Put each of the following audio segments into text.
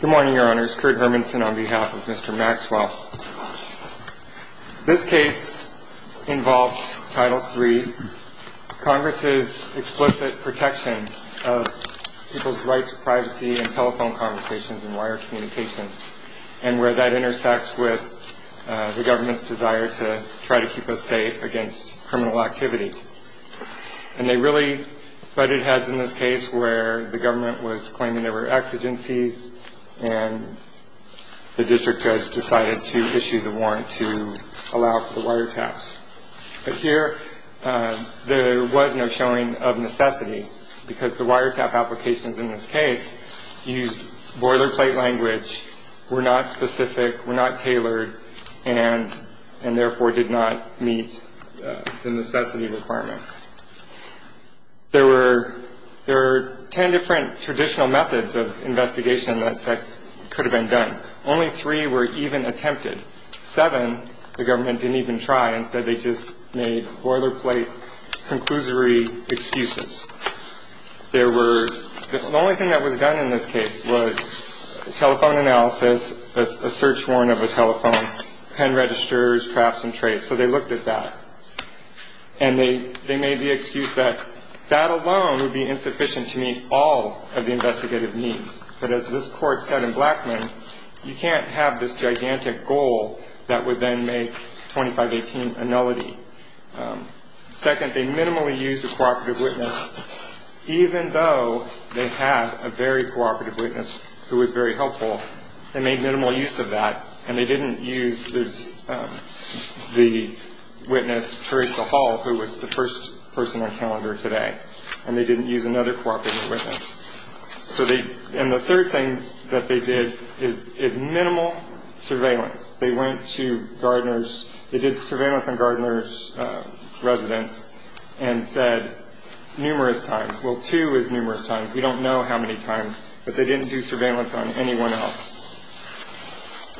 Good morning, Your Honors. Kurt Hermanson on behalf of Mr. Maxwell. This case involves Title III, Congress's explicit protection of people's right to privacy and telephone conversations and wire communications, and where that intersects with the government's desire to try to keep us safe against criminal activity. And they really butted heads in this case where the government was claiming there were exigencies, there were exigencies, and the district judge decided to issue the warrant to allow for the wiretaps. But here, there was no showing of necessity, because the wiretap applications in this case used boilerplate language, were not specific, were not tailored, and therefore did not meet the necessity requirement. There were ten different traditional methods of investigation that could have been done. Only three were even attempted. Seven, the government didn't even try. Instead, they just made boilerplate, conclusory excuses. The only thing that was done in this case was telephone analysis, a search warrant of a telephone, pen registers, traps and trace. So they looked at that. And they made the excuse that that alone would be insufficient to meet all of the investigative needs. But as this court said in Blackman, you can't have this gigantic goal that would then make 2518 a nullity. Second, they minimally used a cooperative witness, even though they had a very cooperative witness who was very helpful. They made minimal use of that. And they didn't use the witness, Theresa Hall, who was the first person on calendar today. And they didn't use another cooperative witness. And the third thing that they did is minimal surveillance. They went to Gardner's, they did surveillance on Gardner's residence and said numerous times, well two is numerous times, we don't know how many times, but they didn't do surveillance on anyone else.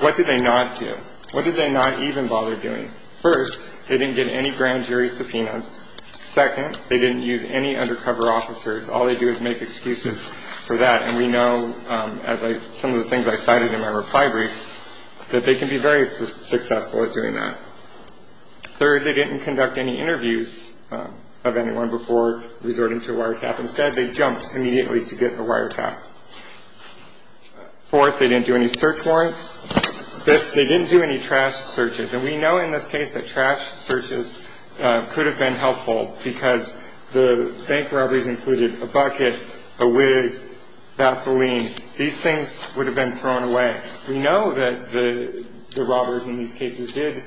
What did they not do? What did they not even bother doing? First, they didn't get any grand jury subpoenas. Second, they didn't use any undercover officers. All they do is make excuses for that. And we know, as some of the things I cited in my reply brief, that they can be very successful at doing that. Third, they didn't conduct any interviews of anyone before resorting to wiretap. Instead, they jumped immediately to get a wiretap. Fourth, they didn't do any search warrants. Fifth, they didn't do any trash searches. And we know in this case that trash searches could have been helpful because the bank robberies included a bucket, a wig, Vaseline. These things would have been thrown away. We know that the robbers in these cases did,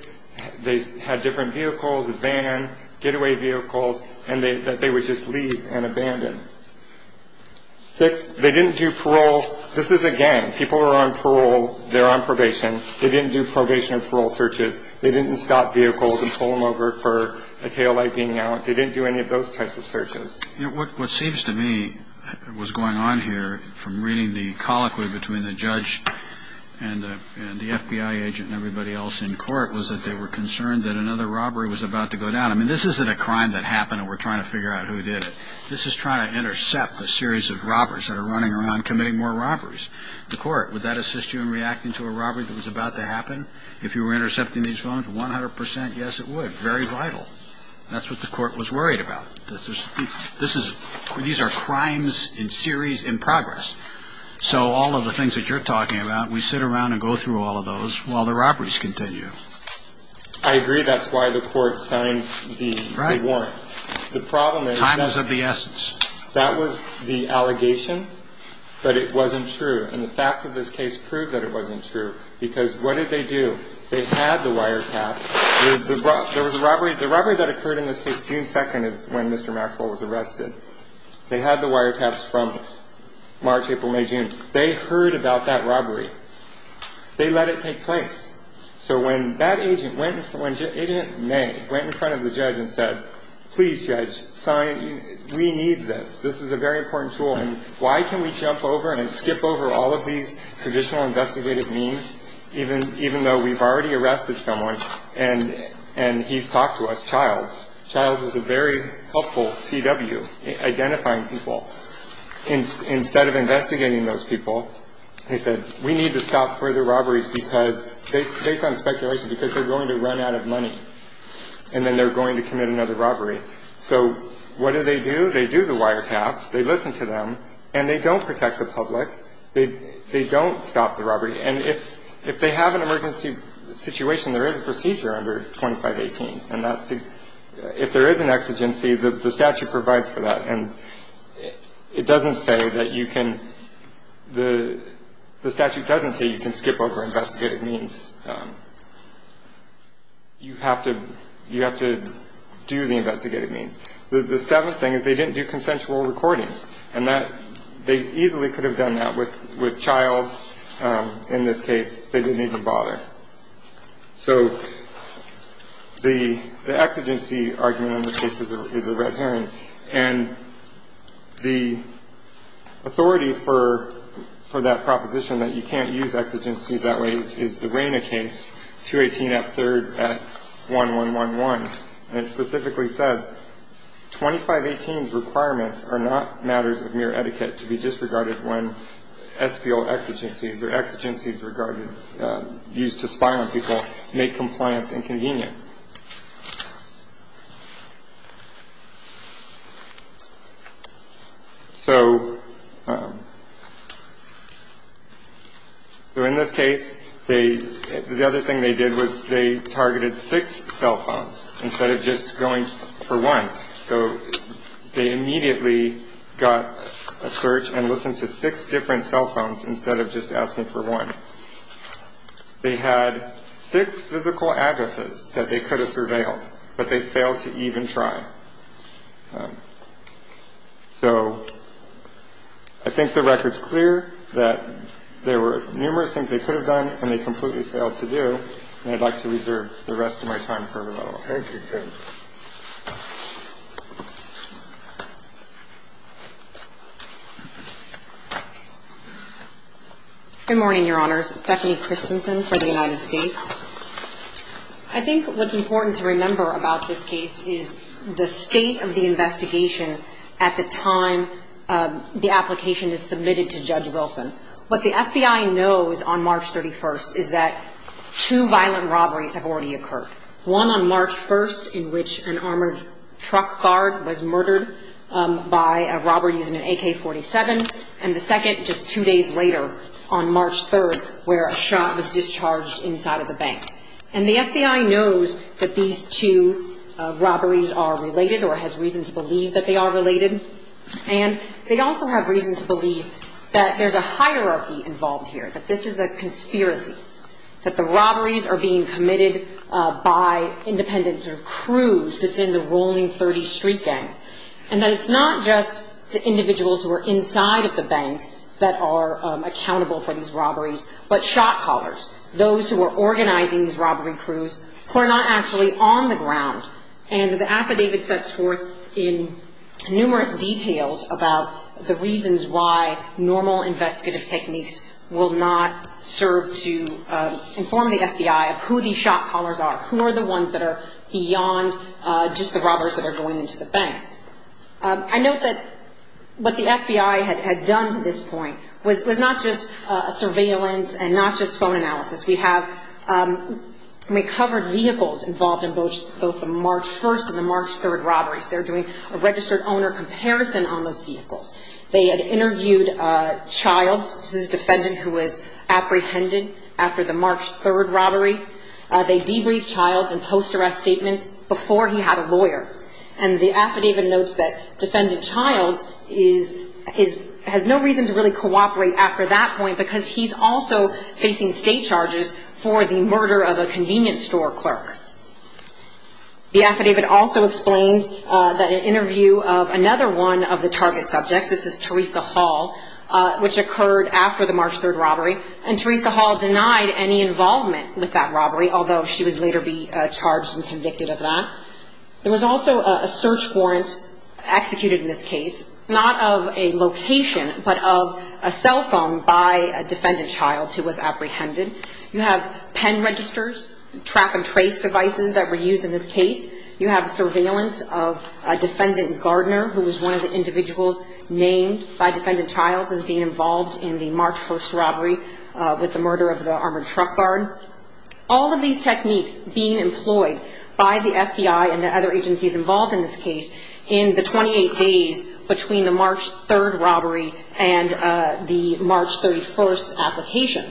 they had different vehicles, a van, getaway vehicles, and that they would just leave and abandon. Sixth, they didn't do parole. This is again, people are on parole, they're on probation. They didn't do probation or parole searches. They didn't stop vehicles and pull them over for a taillight being out. They didn't do any of those types of searches. You know, what seems to me was going on here from reading the colloquy between the judge and the FBI agent and everybody else in court was that they were concerned that another robbery was about to go down. I mean, this isn't a crime that happened and we're trying to figure out who did it. This is trying to intercept a series of robbers that are running around committing more robberies. The court, would that assist you in reacting to a robbery that was about to happen? If you were intercepting these phones, 100 percent, yes, it would. Very vital. That's what the court was worried about. These are crimes in series in progress. So all of the things that you're talking about, we sit around and go through all of those while the robberies continue. I agree that's why the court signed the warrant. The problem is that was the allegation, but it wasn't true. And the facts of this case proved that it wasn't true because what did they do? They had the wiretaps. The robbery that occurred in this case June 2nd is when Mr. Maxwell was arrested. They had the wiretaps from March, April, May, June. They heard about that robbery. They let it take place. So when that agent, Agent May, went in front of the judge and said, please, judge, we need this. This is a very important tool. And why can we jump over and skip over all of these traditional investigative means, even though we've already arrested someone and he's talked to us, Childs. Childs was a very helpful CW identifying people. Instead of investigating those people, they said, we need to stop further robberies because based on speculation, because they're going to run out of money and then they're going to commit another robbery. So what do they do? They do the wiretaps. They listen to them and they don't protect the public. They don't stop the robbery. And if they have an emergency situation, there is a procedure under 2518. And that's to – if there is an exigency, the statute provides for that. And it doesn't say that you can – the statute doesn't say you can skip over investigative means. You have to – you have to do the investigative means. The seventh thing is they didn't do consensual recordings. And that – they easily could have done that with Childs. In this case, they didn't even bother. So the exigency argument in this case is a red herring. And the authority for that proposition that you can't use exigencies that way is the Raina case, 218F3 at 1111. And it specifically says, 2518's requirements are not matters of mere etiquette to be disregarded when SPO exigencies or exigencies regarded – used to spy on people make compliance inconvenient. So in this case, they – the other thing they did was they targeted six cell phones instead of just going for one. So they immediately got a search and listened to six different cell phones instead of just asking for one. They had six physical addresses that they could have surveilled, but they failed to even try. So I think the record's clear that there were numerous things they could have done and they completely failed to do. And I'd like to reserve the rest of my time for rebuttal. Good morning, Your Honors. Stephanie Christensen for the United States. I think what's important to remember about this case is the state of the investigation at the time the application is submitted to Judge Wilson. What the FBI knows on March 31st is that two violent robberies have already occurred, one on March 1st in which an armored truck guard was murdered by a robber using an AK-47, and the second just two days later on March 3rd where a shot was discharged inside of the bank. And the FBI knows that these two robberies are related or has reason to believe that they are related. And they also have reason to believe that there's a hierarchy involved here, that this is a conspiracy, that the robberies are being committed by independent sort of crews within the Rolling 30 street gang. And that it's not just the individuals who are inside of the bank that are accountable for these robberies, but shot callers, those who are organizing these robbery crews who are not actually on the ground. And the affidavit sets forth in numerous details about the reasons why normal investigative techniques will not serve to inform the FBI of who these shot callers are, who are the ones that are beyond just the robbers that are going into the bank. I note that what the FBI had done to this point was not just a surveillance and not just phone analysis. We have recovered vehicles involved in both the March 1st and the March 3rd robberies. They're doing a registered owner comparison on those vehicles. They had interviewed Childs, this is a defendant who was apprehended after the March 3rd robbery. They debriefed Childs in post-arrest statements before he had a lawyer. And the affidavit notes that defendant Childs has no reason to really cooperate after that point because he's also facing state charges for the murder of a convenience store clerk. The affidavit also explains that an interview of another one of the target subjects, this is Teresa Hall, which occurred after the March 3rd robbery, and Teresa Hall denied any involvement with that robbery, although she would later be charged and convicted of that. There was also a search warrant executed in this case, not of a location, but of a cell phone by a defendant Childs who was apprehended. You have pen registers, track and trace devices that were used in this case. You have surveillance of a defendant Gardner, who was one of the individuals named by defendant Childs as being involved in the March 1st robbery with the murder of the armored truck guard. All of these techniques being employed by the FBI and the other agencies involved in this case in the 28 days between the March 3rd robbery and the March 31st application.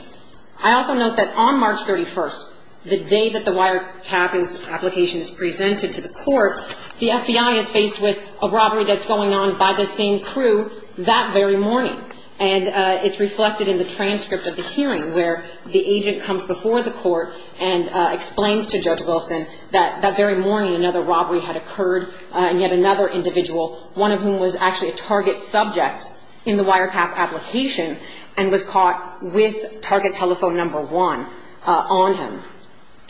You also note that on March 31st, the day that the wiretap application is presented to the court, the FBI is faced with a robbery that's going on by the same crew that very morning. And it's reflected in the transcript of the hearing where the agent comes before the court and explains to Judge Wilson that that very morning another robbery had occurred, and yet another individual, one of whom was actually a target subject in the wiretap application, and was caught with target telephone number one.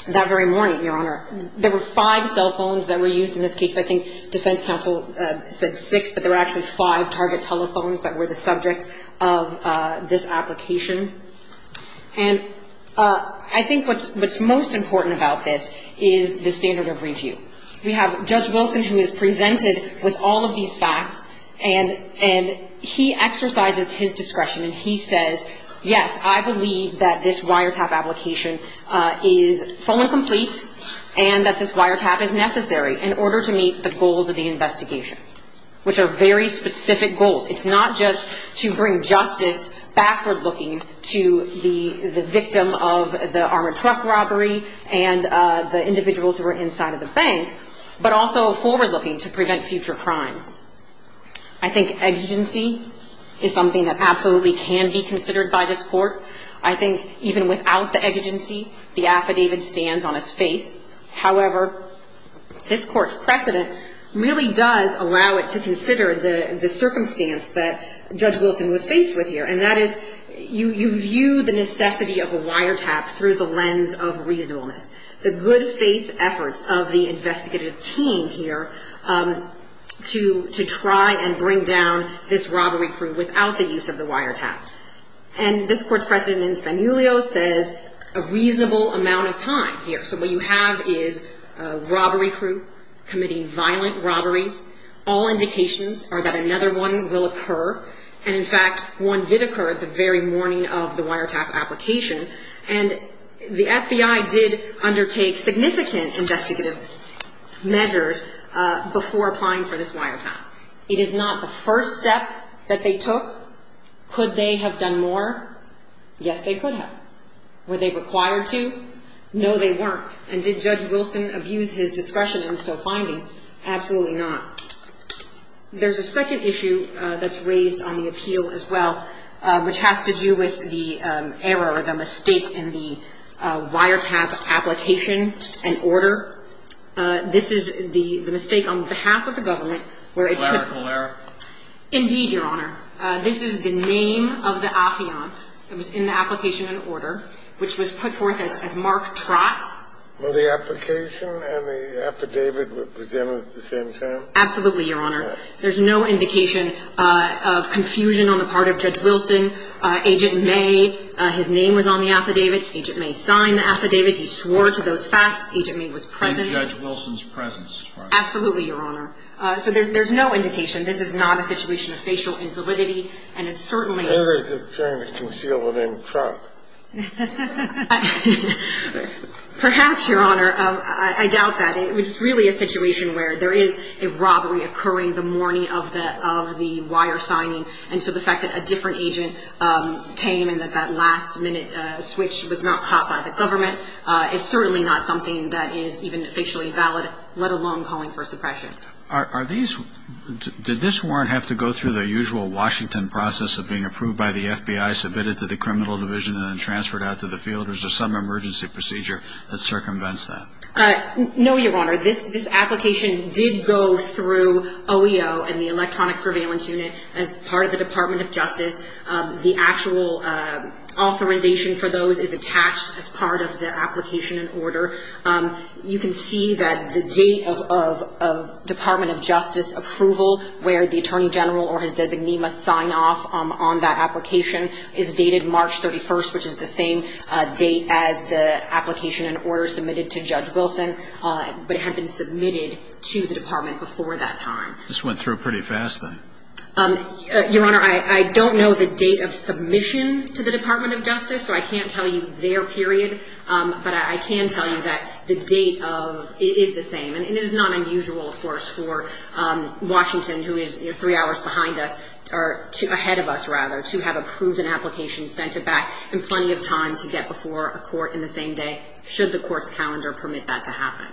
That very morning, Your Honor, there were five cell phones that were used in this case. I think defense counsel said six, but there were actually five target telephones that were the subject of this application. And I think what's most important about this is the standard of review. We have Judge Wilson, who is presented with all of these facts, and he exercises his discretion, and he says, yes, I believe that this wiretap application is full and complete, and that this wiretap is necessary in order to meet the goals of the investigation, which are very specific goals. It's not just to bring justice backward-looking to the victim of the armored truck robbery and the individuals who were inside of the bank, but also forward-looking to prevent future crimes. I think exigency is something that absolutely can be considered by this Court. I think even without the exigency, the affidavit stands on its face. However, this Court's precedent really does allow it to consider the circumstance that Judge Wilson was faced with here, and that is you view the necessity of a wiretap through the lens of reasonableness. The good-faith efforts of the investigative team here to try and bring down this robbery crew without the use of the wiretap. And this Court's precedent in Spanulio says a reasonable amount of time here. So what you have is a robbery crew committing violent robberies. All indications are that another one will occur, and, in fact, one did occur the very morning of the wiretap application. And the FBI did undertake significant investigative measures before applying for this wiretap. It is not the first step that they took. Could they have done more? Yes, they could have. Were they required to? No, they weren't. And did Judge Wilson abuse his discretion in so finding? Absolutely not. There's a second issue that's raised on the appeal as well, which has to do with the error or the mistake in the wiretap application and order. This is the mistake on behalf of the government where it could. Hilarical error. Indeed, Your Honor. This is the name of the affiant that was in the application and order, which was put forth as Mark Trott. Were the application and the affidavit presented at the same time? Absolutely, Your Honor. There's no indication of confusion on the part of Judge Wilson. Agent May, his name was on the affidavit. Agent May signed the affidavit. He swore to those facts. Agent May was present. In Judge Wilson's presence. Absolutely, Your Honor. So there's no indication. This is not a situation of facial invalidity. And it's certainly. Very determined to conceal the name Trott. Perhaps, Your Honor. I doubt that. It's really a situation where there is a robbery occurring the morning of the wire signing. And so the fact that a different agent came and that that last-minute switch was not caught by the government is certainly not something that is even facially valid, let alone calling for suppression. Did this warrant have to go through the usual Washington process of being approved by the FBI, submitted to the criminal division, and then transferred out to the field? Or is there some emergency procedure that circumvents that? No, Your Honor. This application did go through OEO and the electronic surveillance unit as part of the Department of Justice. The actual authorization for those is attached as part of the application and order. You can see that the date of Department of Justice approval, where the Attorney General or his designee must sign off on that application, is dated March 31st, which is the same date as the application and order submitted to Judge Wilson. But it had been submitted to the Department before that time. This went through pretty fast, then? Your Honor, I don't know the date of submission to the Department of Justice, so I can't tell you their period. But I can tell you that the date is the same. And it is not unusual, of course, for Washington, who is three hours ahead of us, to have approved an application, sent it back, and plenty of time to get before a court in the same day, should the court's calendar permit that to happen.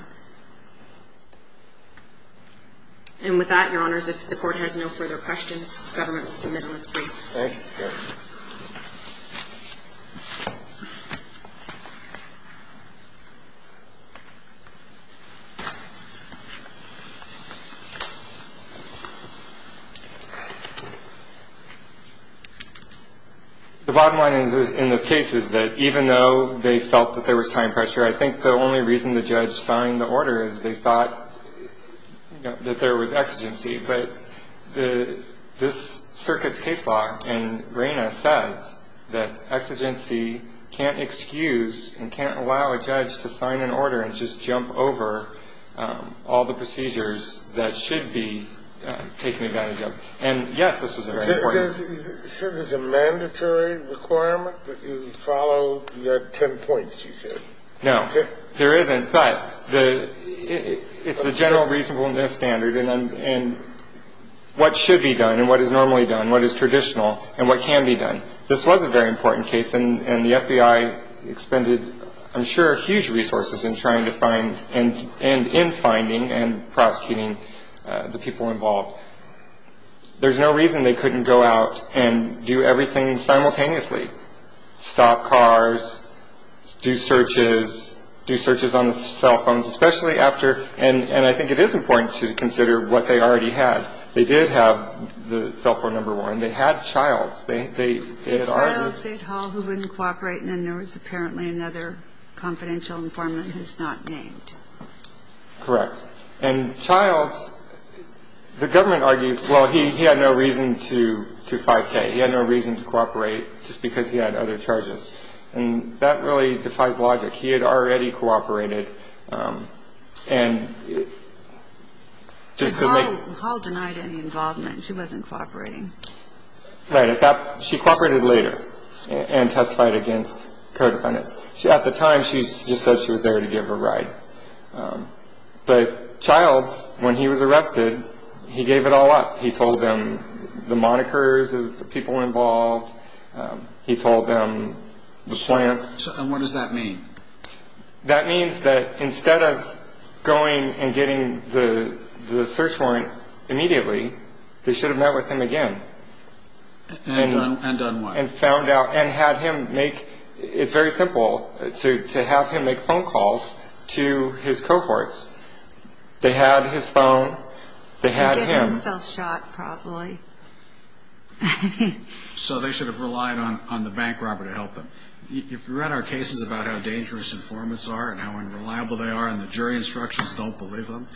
And with that, Your Honor, if the court has no further questions, the government will submit on its briefs. Thank you, Your Honor. The bottom line in this case is that even though they felt that there was time pressure, I think the only reason the judge signed the order is they thought that there was exigency. But this circuit's case law in RENA says that exigency can't excuse and can't allow a judge to sign an order and just jump over all the procedures that should be taken advantage of. And, yes, this was a very important one. So there's a mandatory requirement that you follow your ten points, you said? No, there isn't. But it's the general reasonableness standard and what should be done and what is normally done, what is traditional and what can be done. This was a very important case, and the FBI expended, I'm sure, huge resources in trying to find and in finding and prosecuting the people involved. There's no reason they couldn't go out and do everything simultaneously, stop cars, do searches, do searches on the cell phones, especially after – and I think it is important to consider what they already had. They did have the cell phone number warrant. They had Childs. It's Childs State Hall who wouldn't cooperate, and then there was apparently another confidential informant who's not named. Correct. And Childs, the government argues, well, he had no reason to 5K. He had no reason to cooperate just because he had other charges, and that really defies logic. He had already cooperated and just to make – Hall denied any involvement. She wasn't cooperating. Right. She cooperated later and testified against co-defendants. At the time, she just said she was there to give a ride. But Childs, when he was arrested, he gave it all up. He told them the monikers of the people involved. He told them the plan. And what does that mean? That means that instead of going and getting the search warrant immediately, they should have met with him again. And done what? And found out and had him make – it's very simple to have him make phone calls to his cohorts. They had his phone. They had him. He gave himself shot probably. So they should have relied on the bank robber to help them. You've read our cases about how dangerous informants are and how unreliable they are and the jury instructions don't believe them.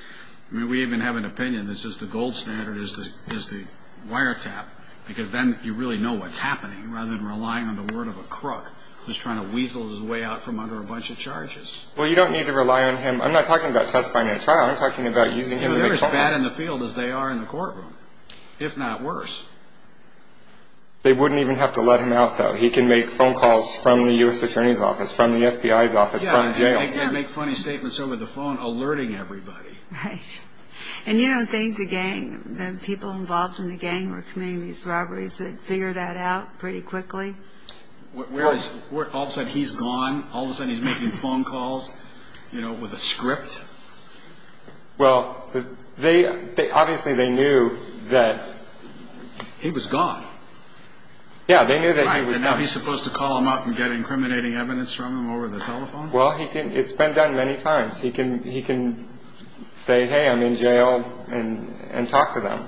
I mean, we even have an opinion that says the gold standard is the wiretap because then you really know what's happening rather than relying on the word of a crook who's trying to weasel his way out from under a bunch of charges. Well, you don't need to rely on him. I'm not talking about testifying in a trial. I'm talking about using him to make phone calls. They're as bad in the field as they are in the courtroom, if not worse. They wouldn't even have to let him out, though. He can make phone calls from the U.S. Attorney's office, from the FBI's office, from jail. And make funny statements over the phone, alerting everybody. Right. And you don't think the gang, the people involved in the gang who were committing these robberies would figure that out pretty quickly? All of a sudden, he's gone. All of a sudden, he's making phone calls, you know, with a script. Well, obviously, they knew that... He was gone. Yeah, they knew that he was gone. Now he's supposed to call them up and get incriminating evidence from them over the telephone? Well, it's been done many times. He can say, hey, I'm in jail, and talk to them.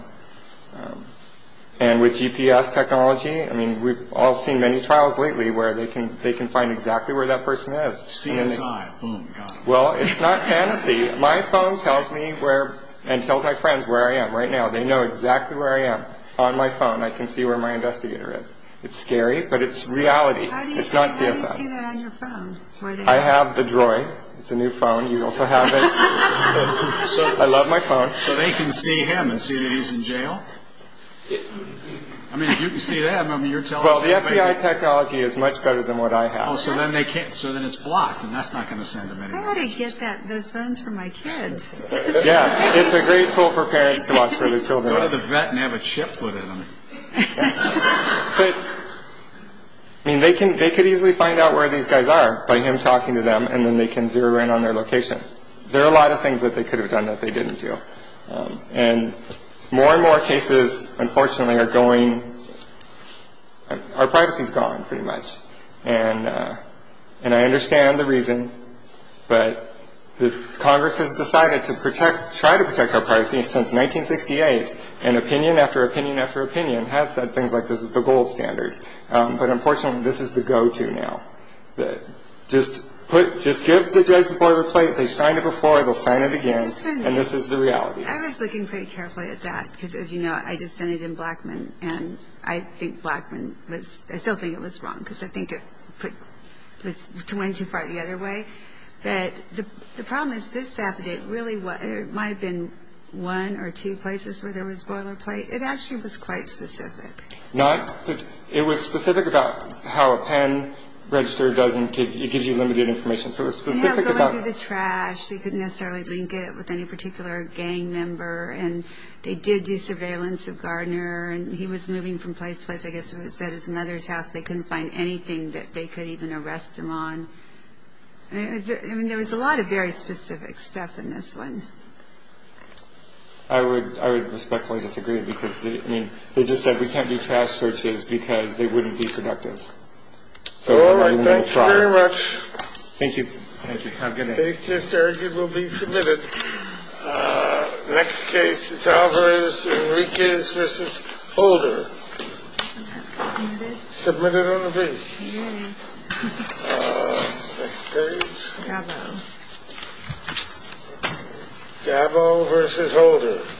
And with GPS technology, I mean, we've all seen many trials lately where they can find exactly where that person is. CSI, oh, my God. Well, it's not fantasy. My phone tells me where, and tells my friends where I am right now. They know exactly where I am on my phone. I can see where my investigator is. It's scary, but it's reality. How do you see that on your phone? I have the droid. It's a new phone. You also have it. I love my phone. So they can see him and see that he's in jail? I mean, if you can see them, I mean, you're telling somebody... Well, the FBI technology is much better than what I have. Oh, so then they can't... so then it's blocked, and that's not going to send them anywhere. How do I get those phones for my kids? Yeah, it's a great tool for parents to watch for their children. Go to the vet and have a chip put in them. But, I mean, they could easily find out where these guys are by him talking to them, and then they can zero in on their location. There are a lot of things that they could have done that they didn't do. And more and more cases, unfortunately, are going... Our privacy's gone, pretty much. And I understand the reason, but Congress has decided to try to protect our privacy since 1968, and opinion after opinion after opinion has said things like this is the gold standard. But, unfortunately, this is the go-to now. Just give the judge the part of the plate. They signed it before, they'll sign it again, and this is the reality. I was looking pretty carefully at that, because, as you know, I just sent it in Blackman, and I think Blackman was... I still think it was wrong, because I think it went too far the other way. But the problem is this affidavit really... There might have been one or two places where there was boilerplate. It actually was quite specific. Not... It was specific about how a pen register doesn't give... It gives you limited information, so it was specific about... Yeah, going through the trash. They couldn't necessarily link it with any particular gang member, and they did do surveillance of Gardner, and he was moving from place to place. I guess it was at his mother's house. They couldn't find anything that they could even arrest him on. I mean, there was a lot of very specific stuff in this one. I would respectfully disagree, because, I mean, they just said, we can't do trash searches because they wouldn't be productive. All right, thanks very much. Thank you. Thank you. Have a good night. Case just argued will be submitted. Next case is Alvarez-Enriquez v. Holder. Submitted. Submitted on the base. Yay. Next case. Gabbo. Gabbo v. Holder.